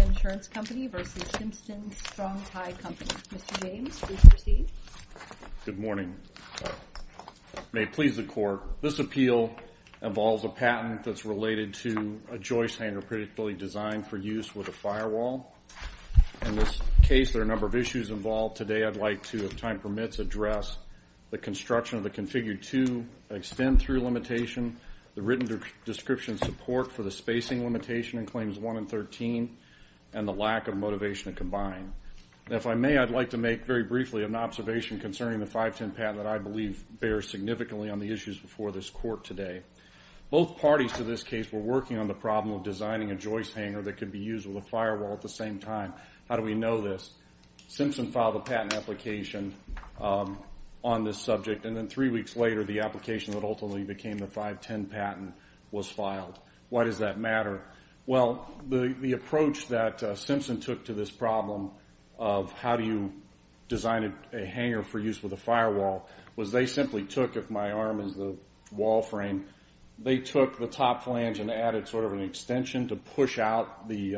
Mr. James, please proceed. Good morning. May it please the Court, this appeal involves a patent that's related to a joist hanger predictably designed for use with a firewall. In this case, there are a number of issues involved. Today, I'd like to, if time permits, address the construction of the Configure 2, extend through limitation, the written description support for the spacing limitation in Claims 1 and 13, and the lack of motivation to combine. If I may, I'd like to make, very briefly, an observation concerning the 510 patent that I believe bears significantly on the issues before this Court today. Both parties to this case were working on the problem of designing a joist hanger that could be used with a firewall at the same time. How do we know this? Simpson filed a patent application on this subject, and then three weeks later, the application that ultimately became the 510 patent was filed. Why does that matter? Well, the approach that Simpson took to this problem of how do you design a hanger for use with a firewall, was they simply took, if my arm is the wall frame, they took the top flange and added sort of an extension to push out the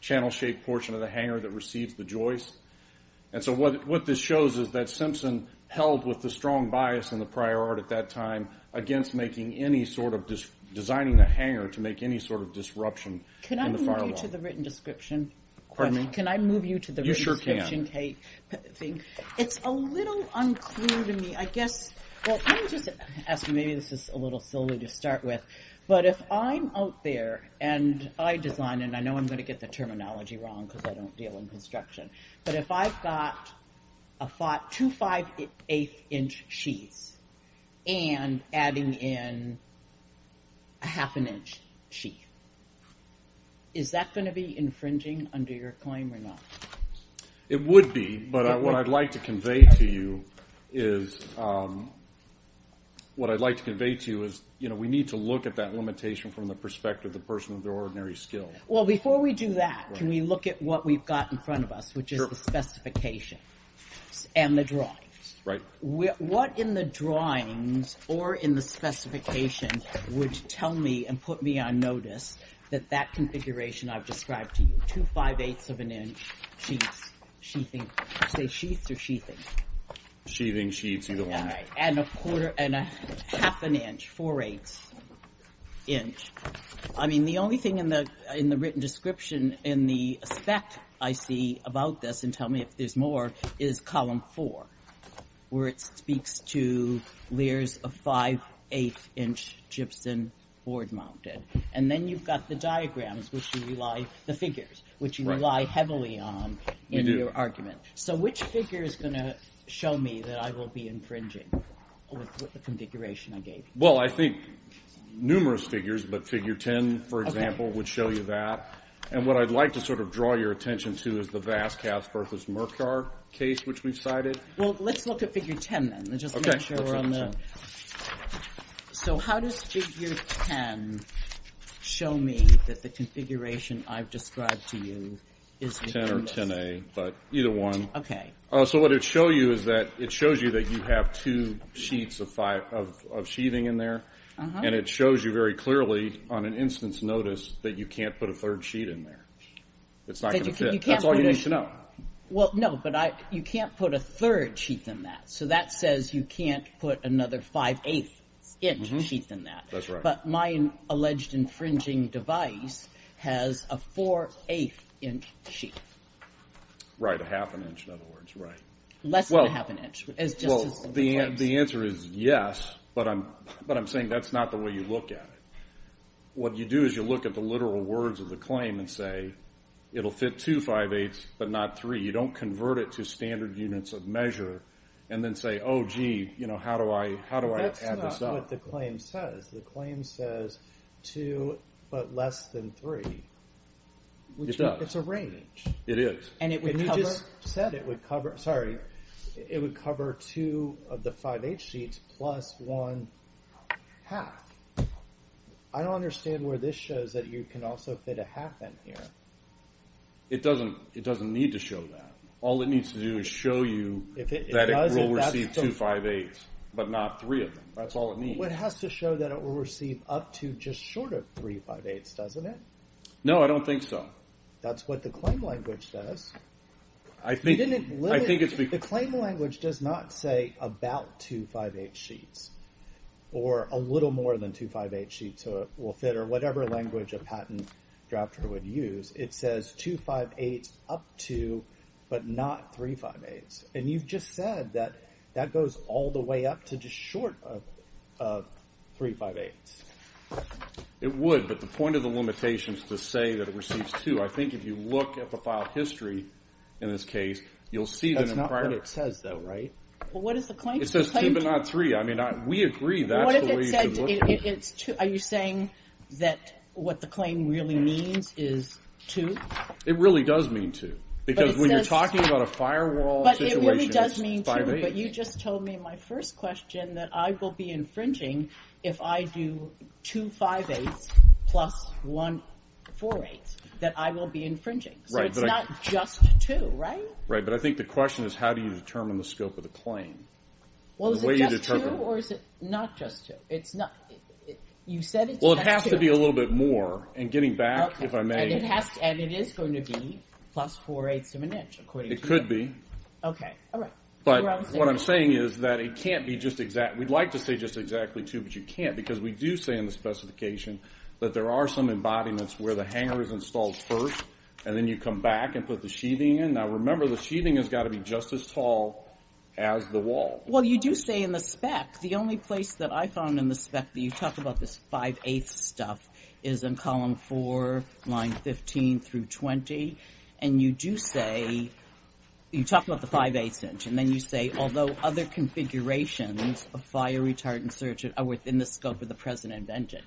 channel-shaped portion of the hanger that receives the joist. And so what this shows is that Simpson held with a strong bias in the prior art at that time against designing a hanger to make any sort of disruption in the firewall. Can I move you to the written description? You sure can. It's a little unclear to me, I guess, well, let me just ask, maybe this is a little silly to start with, but if I'm out there and I design, and I know I'm going to get the terminology wrong because I don't deal in construction, but if I've got two five-eighth inch sheaths and adding in a half an inch sheath, is that going to be infringing under your claim or not? It would be, but what I'd like to convey to you is, what I'd like to convey to you is, you know, we need to look at that limitation from the perspective of the person with the ordinary skills. Well, before we do that, can we look at what we've got in front of us, which is the specification and the drawings? Right. What in the drawings or in the specification would tell me and put me on notice that that configuration I've described to you, two five-eighths of an inch sheaths, sheathing, say sheaths or sheathing? Sheathing, sheaths, either one. Right, and a quarter and a half an inch, four-eighths inch. I mean, the only thing in the written description in the aspect I see about this, and tell me if there's more, is column four, where it speaks to layers of five-eighth inch gypsum board mounted. And then you've got the diagrams, which you rely, the figures, which you rely heavily on in your argument. So which figure is going to show me that I will be infringing with the configuration I gave you? Well, I think numerous figures, but figure 10, for example, would show you that. And what I'd like to sort of draw your attention to is the Vasquez versus Mercar case, which we've cited. Well, let's look at figure 10, then, just to make sure we're on the… Okay, let's look at 10. So how does figure 10 show me that the configuration I've described to you is… Either one. Okay. So what it shows you is that it shows you that you have two sheets of sheathing in there. And it shows you very clearly on an instance notice that you can't put a third sheet in there. It's not going to fit. That's all you need to know. Well, no, but you can't put a third sheet in that. So that says you can't put another five-eighths inch sheet in that. That's right. But my alleged infringing device has a four-eighth inch sheet. Right, a half an inch, in other words, right. Less than a half an inch. Well, the answer is yes, but I'm saying that's not the way you look at it. What you do is you look at the literal words of the claim and say, it'll fit two five-eighths, but not three. You don't convert it to standard units of measure and then say, oh, gee, how do I add this up? That's not what the claim says. The claim says two but less than three. It does. It's a range. It is. And you just said it would cover two of the five-eighths sheets plus one half. I don't understand where this shows that you can also fit a half in here. It doesn't need to show that. All it needs to do is show you that it will receive two five-eighths, but not three of them. That's all it needs. Well, it has to show that it will receive up to just short of three five-eighths, doesn't it? No, I don't think so. That's what the claim language does. I think it's because The claim language does not say about two five-eighths sheets or a little more than two five-eighths sheets will fit or whatever language a patent drafter would use. It says two five-eighths up to but not three five-eighths. And you've just said that that goes all the way up to just short of three five-eighths. It would, but the point of the limitation is to say that it receives two. I think if you look at the file history in this case, you'll see that in prior That's not what it says, though, right? Well, what is the claim? It says two but not three. I mean, we agree that's the way you could look at it. Are you saying that what the claim really means is two? It really does mean two. Because when you're talking about a firewall situation, it's five-eighths. But it really does mean two. But you just told me in my first question that I will be infringing if I do two five-eighths plus one four-eighths, that I will be infringing. So it's not just two, right? Right, but I think the question is how do you determine the scope of the claim? Well, is it just two or is it not just two? You said it's just two. Well, it has to be a little bit more. And getting back, if I may. And it is going to be plus four-eighths of an inch, according to you. It could be. Okay, all right. But what I'm saying is that it can't be just exact. We'd like to say just exactly two, but you can't because we do say in the specification that there are some embodiments where the hanger is installed first, and then you come back and put the sheathing in. Now, remember, the sheathing has got to be just as tall as the wall. Well, you do say in the spec. The only place that I found in the spec that you talk about this five-eighths stuff is in column four, line 15 through 20. And you do say you talk about the five-eighths inch, and then you say although other configurations of fire, retard, and search are within the scope of the present invention.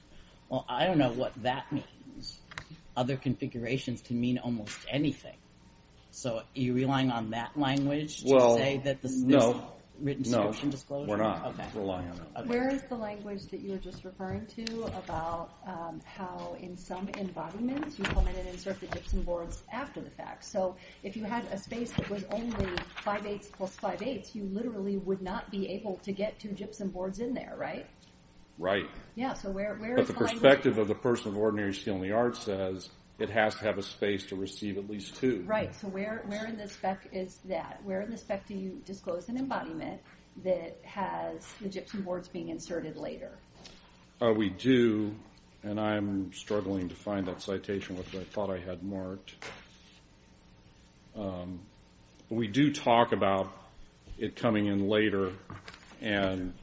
Well, I don't know what that means. Other configurations can mean almost anything. So are you relying on that language to say that there's a written description? We're not relying on it. Where is the language that you were just referring to about how in some embodiments you come in and insert the gypsum boards after the fact? So if you had a space that was only five-eighths plus five-eighths, you literally would not be able to get two gypsum boards in there, right? Right. Yeah, so where is the language? But the perspective of the person of ordinary skill in the arts says it has to have a space to receive at least two. Right, so where in the spec is that? That has the gypsum boards being inserted later? We do, and I'm struggling to find that citation, which I thought I had marked. We do talk about it coming in later, and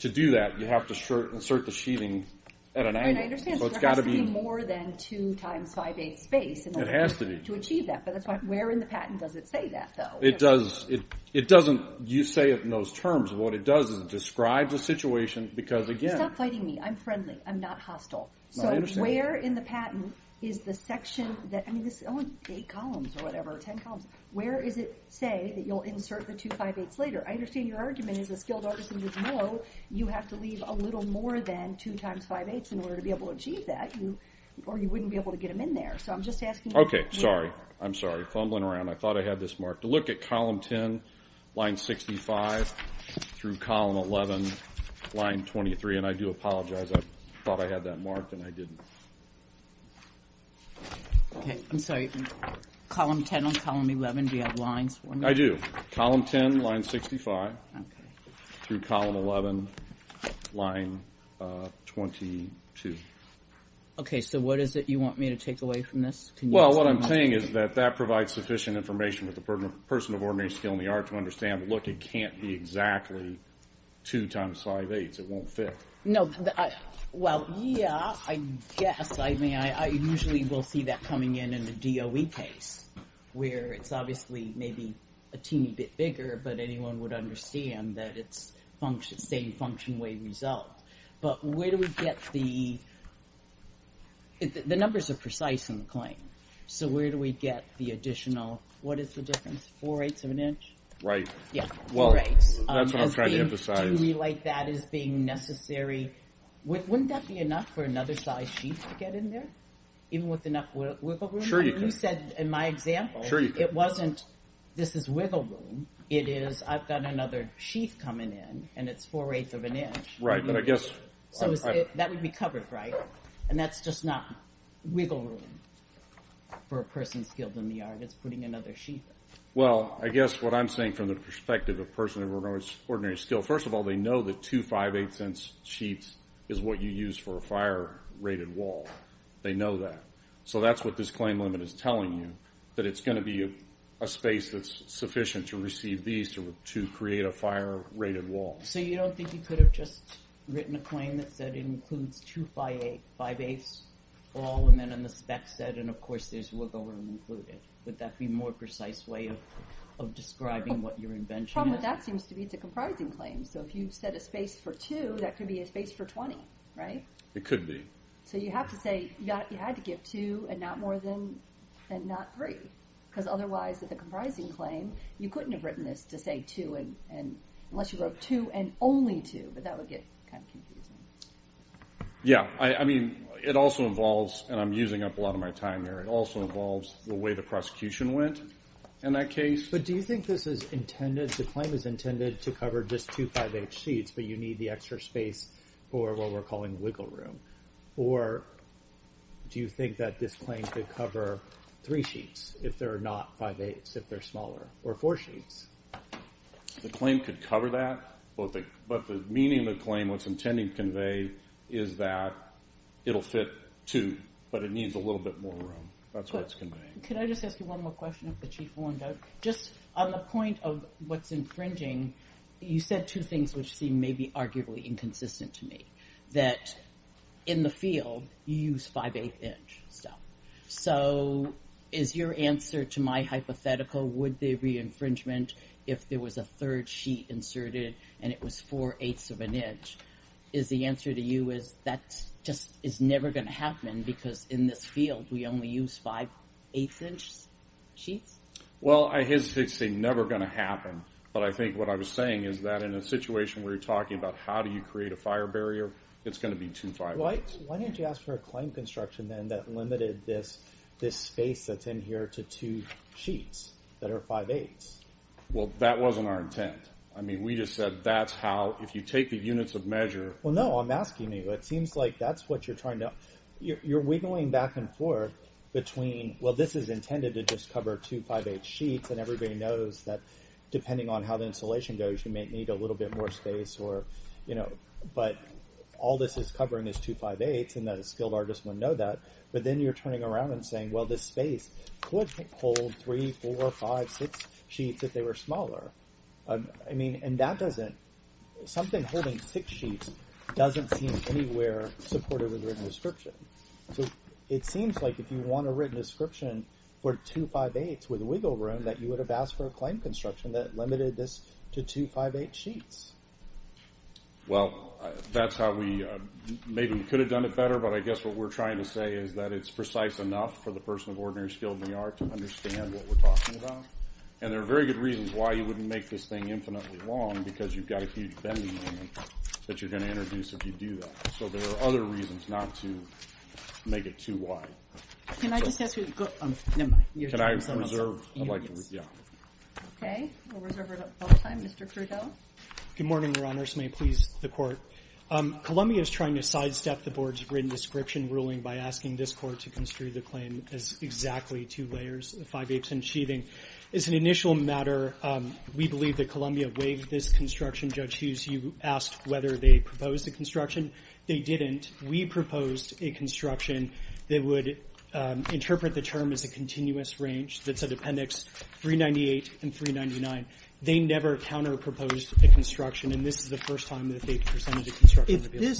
to do that, you have to insert the sheathing at an angle. I understand, so there has to be more than two times five-eighths space. It has to be. To achieve that, but where in the patent does it say that, though? It doesn't. You say it in those terms. What it does is describe the situation because, again— Stop fighting me. I'm friendly. I'm not hostile. So where in the patent is the section that—I mean, this is only eight columns or whatever, ten columns. Where does it say that you'll insert the two five-eighths later? I understand your argument is a skilled artisan would know you have to leave a little more than two times five-eighths in order to be able to achieve that, or you wouldn't be able to get them in there. So I'm just asking— Okay, sorry. I'm sorry. I'm sorry I'm fumbling around. I thought I had this marked. Look at column 10, line 65, through column 11, line 23. And I do apologize. I thought I had that marked, and I didn't. Okay. I'm sorry. Column 10 on column 11, do you have lines for me? I do. Column 10, line 65, through column 11, line 22. Okay, so what is it you want me to take away from this? Well, what I'm saying is that that provides sufficient information with a person of ordinary skill in the art to understand, look, it can't be exactly two times five-eighths. It won't fit. No. Well, yeah, I guess. I mean, I usually will see that coming in in the DOE case where it's obviously maybe a teeny bit bigger, but anyone would understand that it's the same function way result. But where do we get the – the numbers are precise in the claim. So where do we get the additional – what is the difference? Four-eighths of an inch? Right. Yeah, four-eighths. Well, that's what I'm trying to emphasize. To relate that as being necessary, wouldn't that be enough for another size sheath to get in there, even with enough wiggle room? Sure you could. You said in my example it wasn't this is wiggle room. It is I've got another sheath coming in, and it's four-eighths of an inch. Right, but I guess – So that would be covered, right? And that's just not wiggle room for a person skilled in the art. It's putting another sheath in. Well, I guess what I'm saying from the perspective of a person of an ordinary skill, first of all, they know that two five-eighths-inch sheaths is what you use for a fire-rated wall. They know that. So that's what this claim limit is telling you, that it's going to be a space that's sufficient to receive these to create a fire-rated wall. So you don't think you could have just written a claim that said it includes two five-eighths all, and then in the spec said, and of course there's wiggle room included. Would that be a more precise way of describing what your invention is? The problem with that seems to be it's a comprising claim. So if you set a space for two, that could be a space for 20, right? It could be. So you have to say you had to give two and not more than, and not three, because otherwise with a comprising claim, you couldn't have written this to say two, unless you wrote two and only two, but that would get kind of confusing. Yeah. I mean, it also involves, and I'm using up a lot of my time here, it also involves the way the prosecution went in that case. But do you think this is intended, the claim is intended to cover just two five-eighths sheets, but you need the extra space for what we're calling wiggle room? Or do you think that this claim could cover three sheets if they're not five-eighths, if they're smaller, or four sheets? The claim could cover that, but the meaning of the claim, what it's intending to convey is that it'll fit two, but it needs a little bit more room. That's what it's conveying. Could I just ask you one more question, if the Chief will? Just on the point of what's infringing, you said two things which seem maybe arguably inconsistent to me, that in the field, you use five-eighth inch stuff. So is your answer to my hypothetical, would there be infringement if there was a third sheet inserted and it was four-eighths of an inch? Is the answer to you is that just is never going to happen because in this field, we only use five-eighths inch sheets? Well, I hesitate to say never going to happen, but I think what I was saying is that in a situation where you're talking about how do you create a fire barrier, it's going to be two five-eighths. Why didn't you ask for a claim construction, then, that limited this space that's in here to two sheets that are five-eighths? Well, that wasn't our intent. I mean, we just said that's how, if you take the units of measure— Well, no, I'm asking you. It seems like that's what you're trying to— you're wiggling back and forth between, well, this is intended to just cover two five-eighths sheets, and everybody knows that depending on how the installation goes, you may need a little bit more space, but all this is covering is two five-eighths, and a skilled artist wouldn't know that, but then you're turning around and saying, well, this space could hold three, four, five, six sheets if they were smaller. I mean, and that doesn't— something holding six sheets doesn't seem anywhere supportive of written description. So it seems like if you want a written description for two five-eighths with wiggle room that you would have asked for a claim construction that limited this to two five-eighths sheets. Well, that's how we—maybe we could have done it better, but I guess what we're trying to say is that it's precise enough for the person of ordinary skill than we are to understand what we're talking about, and there are very good reasons why you wouldn't make this thing infinitely long because you've got a huge bending moment that you're going to introduce if you do that. So there are other reasons not to make it too wide. Can I just ask you—never mind. Can I reserve—I'd like to—yeah. Okay. We'll reserve our time. Mr. Crudeau. Good morning, Your Honors. May it please the Court. Columbia is trying to sidestep the Board's written description ruling by asking this Court to construe the claim as exactly two layers of five-eighths and sheathing. As an initial matter, we believe that Columbia waived this construction. Judge Hughes, you asked whether they proposed a construction. They didn't. We proposed a construction that would interpret the term as a continuous range that's a appendix 398 and 399. They never counterproposed a construction, and this is the first time that they presented a construction.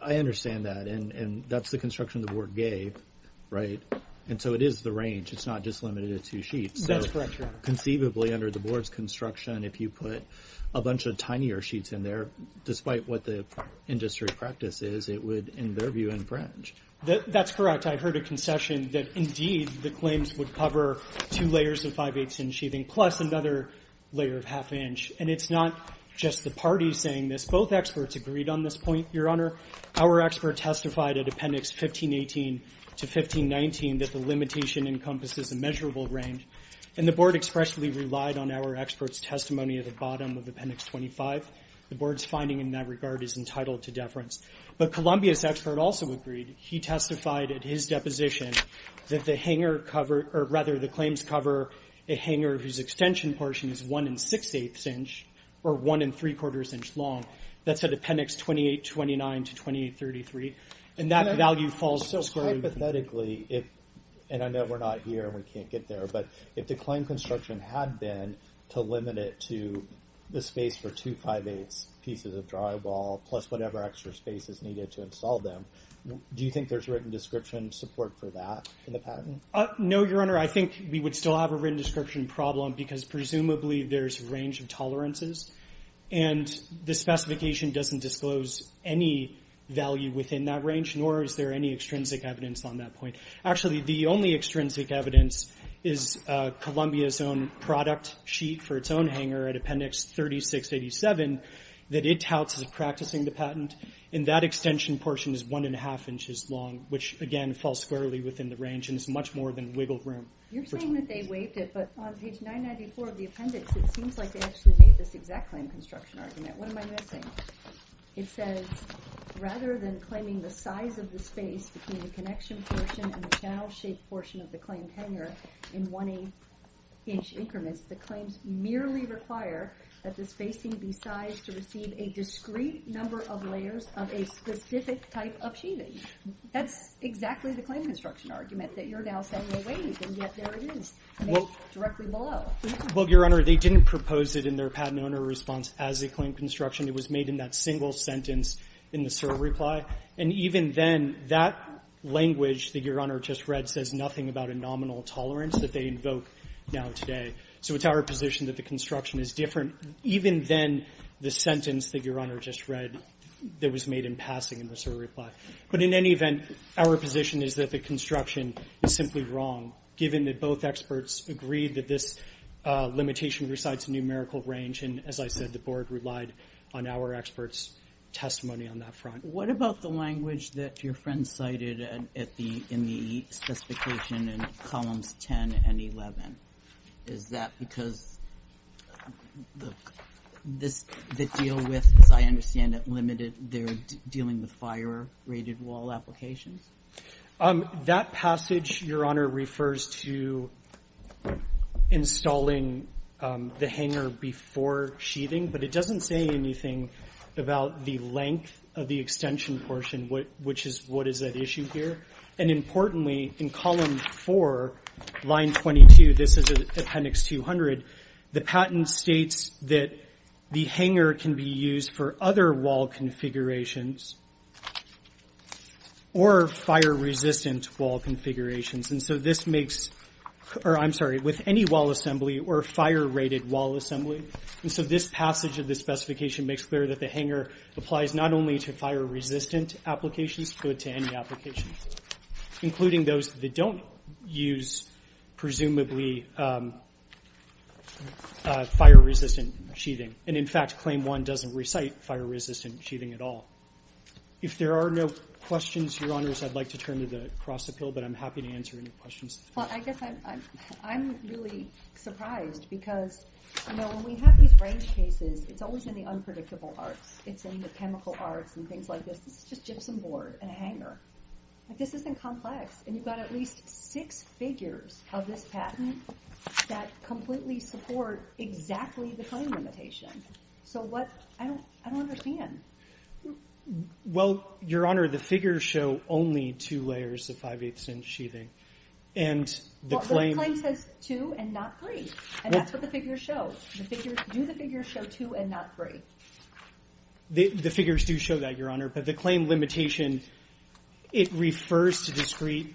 I understand that, and that's the construction the Board gave, right? And so it is the range. It's not just limited to two sheets. That's correct, Your Honor. So conceivably, under the Board's construction, if you put a bunch of tinier sheets in there, despite what the industry practice is, it would, in their view, infringe. That's correct. I heard a concession that, indeed, the claims would cover two layers of five-eighths and sheathing plus another layer of half-inch, and it's not just the parties saying this. Both experts agreed on this point, Your Honor. Our expert testified at Appendix 1518 to 1519 that the limitation encompasses a measurable range, and the Board expressly relied on our expert's testimony at the bottom of Appendix 25. The Board's finding in that regard is entitled to deference. But Columbia's expert also agreed. He testified at his deposition that the claims cover a hanger whose extension portion is one and six-eighths inch or one and three-quarters inch long. That's at Appendix 2829 to 2833. And that value falls so squarely. Hypothetically, and I know we're not here and we can't get there, but if the claim construction had been to limit it to the space for two five-eighths pieces of drywall plus whatever extra space is needed to install them, do you think there's written description support for that in the patent? No, Your Honor. I think we would still have a written description problem because presumably there's a range of tolerances, and the specification doesn't disclose any value within that range, nor is there any extrinsic evidence on that point. Actually, the only extrinsic evidence is Columbia's own product sheet for its own hanger at Appendix 3687 that it touts as practicing the patent, and that extension portion is one and a half inches long, which, again, falls squarely within the range and is much more than wiggle room. You're saying that they waived it, but on page 994 of the appendix, it seems like they actually made this exact claim construction argument. What am I missing? It says, rather than claiming the size of the space between the connection portion and the channel-shaped portion of the claimed hanger in one-inch increments, the claims merely require that the spacing be sized to receive a discrete number of layers of a specific type of sheathing. That's exactly the claim construction argument that you're now saying they waived, and yet there it is, made directly below. Well, Your Honor, they didn't propose it in their patent owner response as a claim construction. It was made in that single sentence in the SIR reply, and even then, that language that Your Honor just read says nothing about a nominal tolerance that they invoke now today. So it's our position that the construction is different, even then the sentence that Your Honor just read that was made in passing in the SIR reply. But in any event, our position is that the construction is simply wrong, given that both experts agreed that this limitation resides in numerical range, and as I said, the Board relied on our experts' testimony on that front. What about the language that your friend cited in the specification in columns 10 and 11? Is that because the deal with, as I understand it, limited their dealing with fire-rated wall applications? That passage, Your Honor, refers to installing the hanger before sheathing, but it doesn't say anything about the length of the extension portion, which is what is at issue here. And importantly, in column 4, line 22, this is appendix 200, the patent states that the hanger can be used for other wall configurations or fire-resistant wall configurations. And so this makes, or I'm sorry, with any wall assembly or fire-rated wall assembly. And so this passage of the specification makes clear that the hanger applies not only to fire-resistant applications, but to any applications, including those that don't use presumably fire-resistant sheathing. And in fact, Claim 1 doesn't recite fire-resistant sheathing at all. If there are no questions, Your Honors, I'd like to turn to the cross-appeal, but I'm happy to answer any questions. Well, I guess I'm really surprised, because when we have these range cases, it's always in the unpredictable arts. It's in the chemical arts and things like this. This is just gypsum board and a hanger. This isn't complex. And you've got at least six figures of this patent that completely support exactly the claim limitation. So what? I don't understand. Well, Your Honor, the figures show only two layers of 5-8th-inch sheathing. And the claim says two and not three. And that's what the figures show. Do the figures show two and not three? The figures do show that, Your Honor, but the claim limitation, it refers to discrete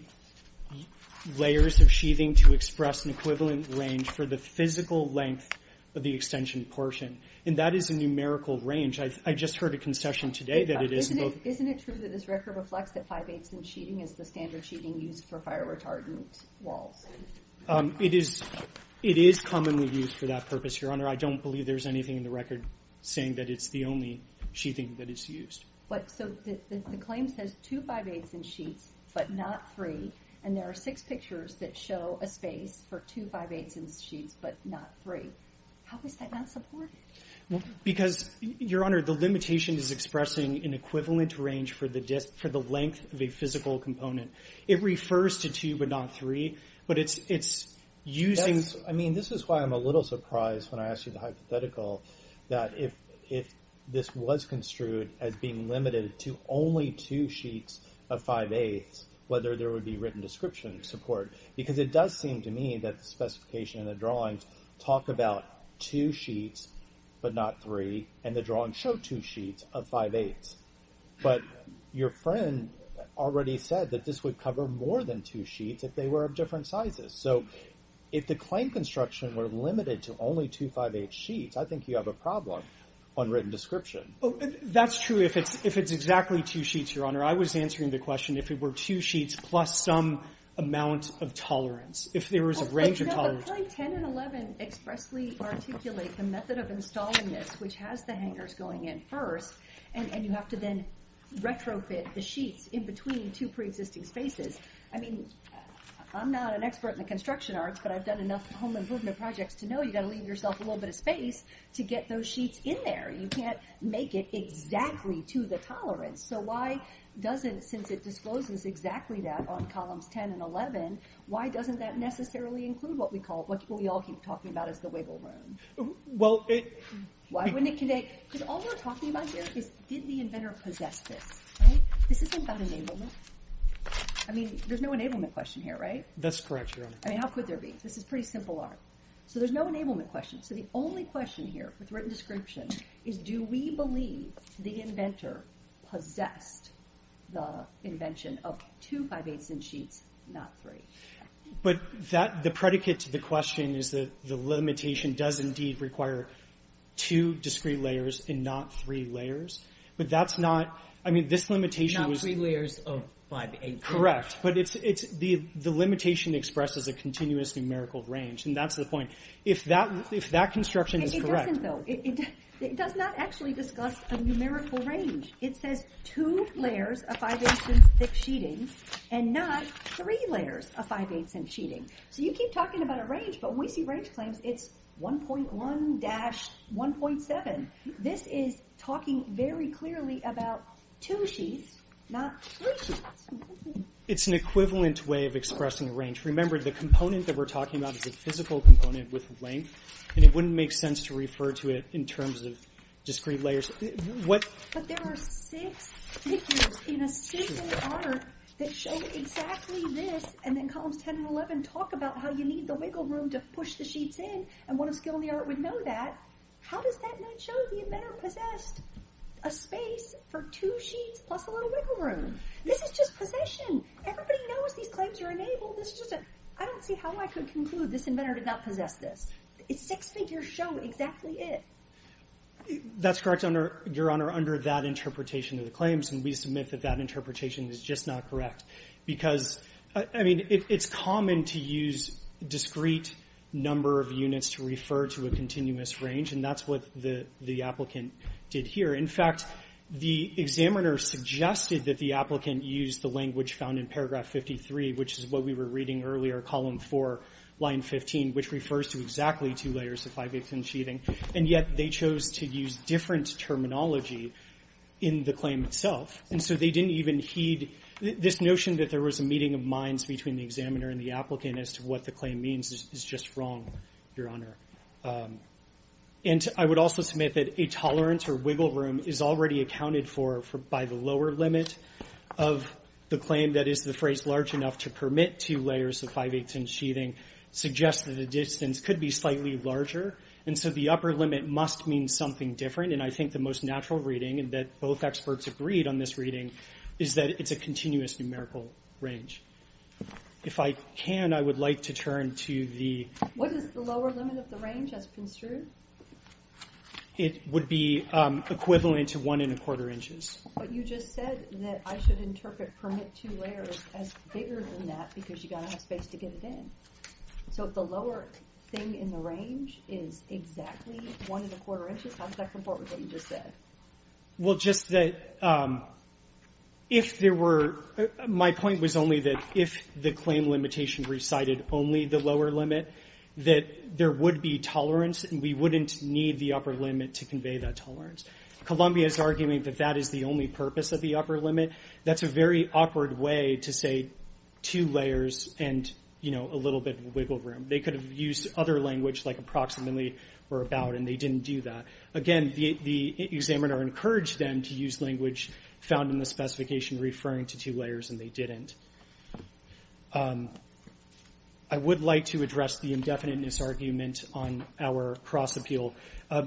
layers of sheathing to express an equivalent range for the physical length of the extension portion. And that is a numerical range. I just heard a concession today that it is... Isn't it true that this record reflects that 5-8th-inch sheathing is the standard sheathing used for fire-retardant walls? It is commonly used for that purpose, Your Honor. I don't believe there's anything in the record saying that it's the only sheathing that is used. So the claim says two 5-8th-inch sheets but not three, and there are six pictures that show a space for two 5-8th-inch sheets but not three. How is that not supported? Because, Your Honor, the limitation is expressing an equivalent range for the length of a physical component. It refers to two but not three, but it's using... I mean, this is why I'm a little surprised when I asked you the hypothetical that if this was construed as being limited to only two sheets of 5-8ths, whether there would be written description support. Because it does seem to me that the specification in the drawings talk about two sheets but not three, and the drawings show two sheets of 5-8ths. But your friend already said that this would cover more than two sheets if they were of different sizes. So if the claim construction were limited to only two 5-8ths sheets, I think you have a problem on written description. That's true if it's exactly two sheets, Your Honor. I was answering the question if it were two sheets plus some amount of tolerance, if there was a range of tolerance. But Claim 10 and 11 expressly articulate the method of installing this, which has the hangers going in first, and you have to then retrofit the sheets in between two preexisting spaces. I mean, I'm not an expert in the construction arts, but I've done enough home improvement projects to know you've got to leave yourself a little bit of space to get those sheets in there. You can't make it exactly to the tolerance. So why doesn't, since it discloses exactly that on columns 10 and 11, why doesn't that necessarily include what we all keep talking about as the wiggle room? Why wouldn't it connect? Because all we're talking about here is, did the inventor possess this? This isn't about enablement. I mean, there's no enablement question here, right? That's correct, Your Honor. I mean, how could there be? This is pretty simple art. So there's no enablement question. So the only question here with written description is do we believe the inventor possessed the invention of two 5-8ths-inch sheets, not three? But the predicate to the question is that the limitation does indeed require two discrete layers and not three layers. But that's not, I mean, this limitation was... Not three layers of 5-8ths. Correct, but the limitation expresses a continuous numerical range, and that's the point. If that construction is correct... It doesn't, though. It does not actually discuss a numerical range. It says two layers of 5-8ths-inch thick sheeting and not three layers of 5-8ths-inch sheeting. So you keep talking about a range, but when we see range claims, it's 1.1-1.7. This is talking very clearly about two sheets, not three sheets. It's an equivalent way of expressing range. Remember, the component that we're talking about is a physical component with length, and it wouldn't make sense to refer to it in terms of discrete layers. But there are six figures in a single art that show exactly this, and then columns 10 and 11 talk about how you need the wiggle room to push the sheets in, and one of skill in the art would know that. How does that not show the inventor possessed a space for two sheets plus a little wiggle room? This is just possession. Everybody knows these claims are enabled. I don't see how I could conclude this inventor did not possess this. Six figures show exactly it. That's correct, Your Honor, under that interpretation of the claims, and we submit that that interpretation is just not correct, because... I mean, it's common to use discrete number of units to refer to a continuous range, and that's what the applicant did here. In fact, the examiner suggested that the applicant use the language found in paragraph 53, which is what we were reading earlier, column 4, line 15, which refers to exactly two layers of five-dimensional sheeting, and yet they chose to use different terminology in the claim itself, that there was a meeting of minds between the examiner and the applicant as to what the claim means is just wrong, Your Honor. And I would also submit that a tolerance or wiggle room is already accounted for by the lower limit of the claim, that is, the phrase large enough to permit two layers of five-eighths-inch sheeting suggests that the distance could be slightly larger, and so the upper limit must mean something different, and I think the most natural reading, and that both experts agreed on this reading, is that it's a continuous numerical range. If I can, I would like to turn to the... What is the lower limit of the range, as construed? It would be equivalent to one and a quarter inches. But you just said that I should interpret permit two layers as bigger than that, because you've got to have space to get it in. So if the lower thing in the range is exactly one and a quarter inches, how does that comport with what you just said? Well, just that if there were... My point was only that if the claim limitation recited only the lower limit, that there would be tolerance, and we wouldn't need the upper limit to convey that tolerance. Columbia's arguing that that is the only purpose of the upper limit. That's a very awkward way to say two layers and a little bit of wiggle room. They could have used other language like approximately or about, and they didn't do that. Again, the examiner encouraged them to use language found in the specification referring to two layers, and they didn't. I would like to address the indefiniteness argument on our cross-appeal.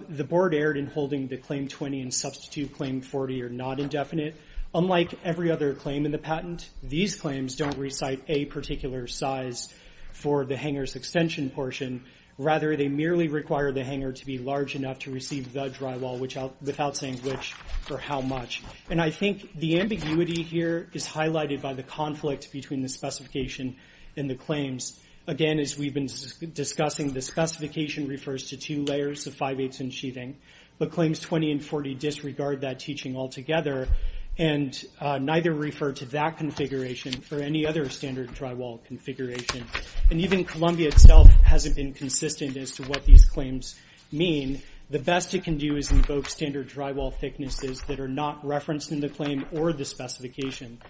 The board erred in holding the claim 20 and substitute claim 40 are not indefinite. Unlike every other claim in the patent, these claims don't recite a particular size for the hanger's extension portion. Rather, they merely require the hanger to be large enough to receive the drywall without saying which or how much. I think the ambiguity here is highlighted by the conflict between the specification and the claims. Again, as we've been discussing, the specification refers to two layers, the 5-8s and sheathing, but claims 20 and 40 disregard that teaching altogether, and neither refer to that configuration or any other standard drywall configuration. Even Columbia itself hasn't been consistent as to what these claims mean. The best it can do is invoke standard drywall thicknesses that are not referenced in the claim or the specification.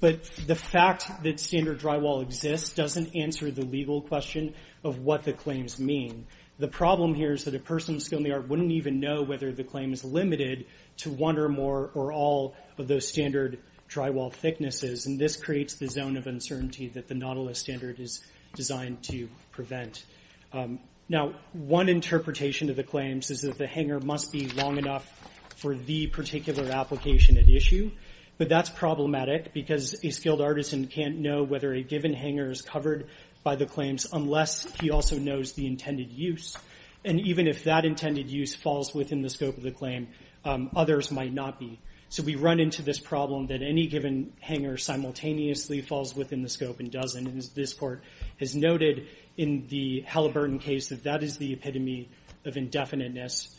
The fact that standard drywall exists doesn't answer the legal question of what the claims mean. The problem here is that a person with skill in the art wouldn't even know whether the claim is limited to one or more or all of those standard drywall thicknesses. This creates the zone of uncertainty that the Nautilus standard is designed to prevent. One interpretation of the claims is that the hanger must be long enough for the particular application at issue, but that's problematic because a skilled artisan can't know whether a given hanger is covered by the claims unless he also knows the intended use. Even if that intended use falls within the scope of the claim, others might not be. We run into this problem that any given hanger simultaneously falls within the scope and doesn't. This court has noted in the Halliburton case that that is the epitome of indefiniteness.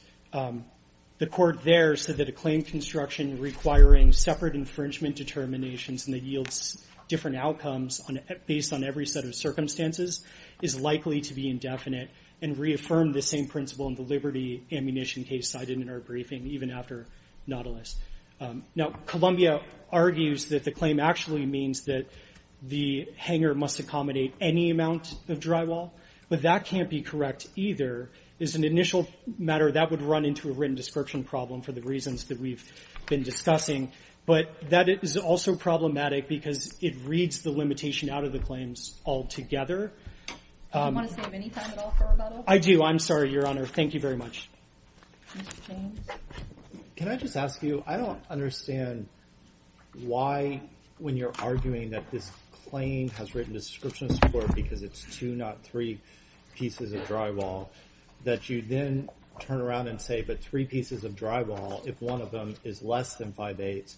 The court there said that a claim construction requiring separate infringement determinations and that yields different outcomes based on every set of circumstances is likely to be indefinite and reaffirmed the same principle in the Liberty ammunition case cited in our briefing even after Nautilus. Columbia argues that the claim actually means that the hanger must accommodate any amount of drywall, but that can't be correct either. As an initial matter, that would run into a written description problem for the reasons that we've been discussing, but that is also problematic because it reads the limitation out of the claims altogether. Do you want to save any time at all for our battle? I do. I'm sorry, Your Honor. Thank you very much. Can I just ask you? I don't understand why when you're arguing that this claim has written descriptions for it because it's two, not three, pieces of drywall, that you then turn around and say, but three pieces of drywall, if one of them is less than five-eighths,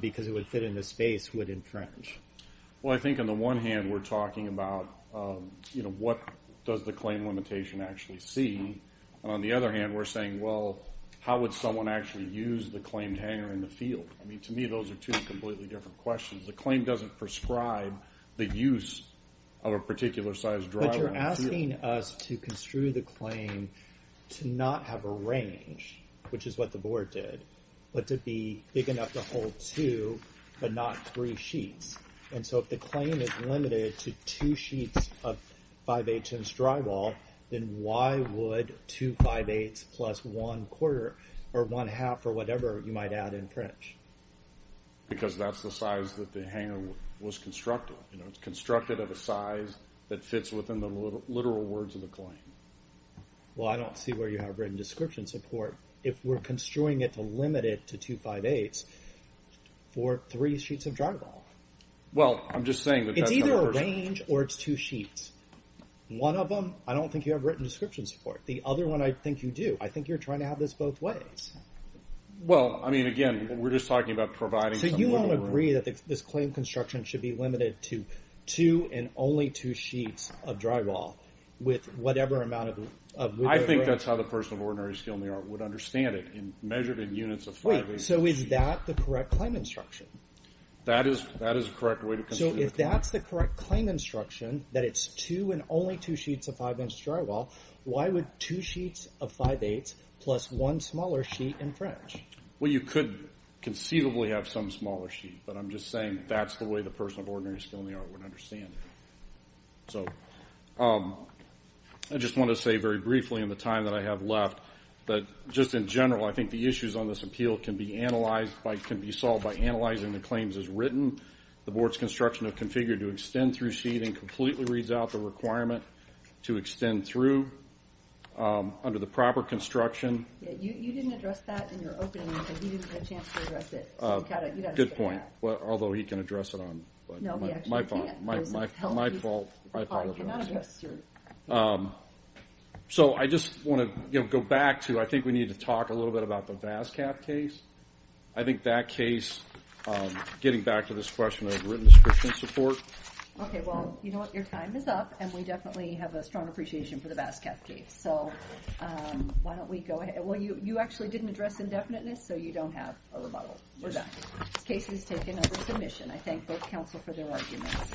because it would fit in this space, would infringe? Well, I think on the one hand, we're talking about, you know, what does the claim limitation actually see? On the other hand, we're saying well, how would someone actually use the claimed hanger in the field? I mean, to me, those are two completely different questions. The claim doesn't prescribe the use of a particular size drywall in the field. But you're asking us to construe the claim to not have a range, which is what the Board did, but to be big enough to hold two but not three sheets. And so if the claim is limited to two sheets of five-eighths inch drywall, then why would two five-eighths plus one quarter or one half or whatever you might add infringe? Because that's the size that the hanger was constructed. You know, it's constructed at a size that fits within the literal words of the claim. Well, I don't see where you have written description support if we're construing it to limit it to two five-eighths for three sheets of drywall. Well, I'm just saying... It's either a range or it's two sheets. One of them, I don't think you have written description support. The other one, I think you do. I think you're trying to have this both ways. Well, I mean, again, we're just talking about providing... So you don't agree that this claim construction should be limited to two and only two sheets of drywall with whatever amount of wood... I think that's how the person of ordinary skill in the art would understand it measured in units of five-eighths. So is that the correct claim instruction? That is the correct way to construe the claim. So if that's the correct claim instruction, that it's two and only two sheets of five-inch drywall, why would two sheets of five-eighths plus one smaller sheet in French? Well, you could conceivably have some smaller sheet, but I'm just saying that's the way the person of ordinary skill in the art would understand it. So... I just want to say very briefly in the time that I have left that just in general I think the issues on this appeal can be analyzed... can be solved by analyzing the claims as written, the board's construction of configure to extend through sheet and completely reads out the requirement to extend through under the proper construction. You didn't address that in your opening. You didn't get a chance to address it. Good point. Although he can address it on... My fault. So I just want to go back to... I think we need to talk a little bit about the Vascaff case. I think that case... Getting back to this question of written description and support... Your time is up, and we definitely have a strong appreciation for the Vascaff case. Why don't we go ahead... Well, you actually didn't address indefiniteness so you don't have a rebuttal. Case is taken under submission. I thank both counsel for their arguments.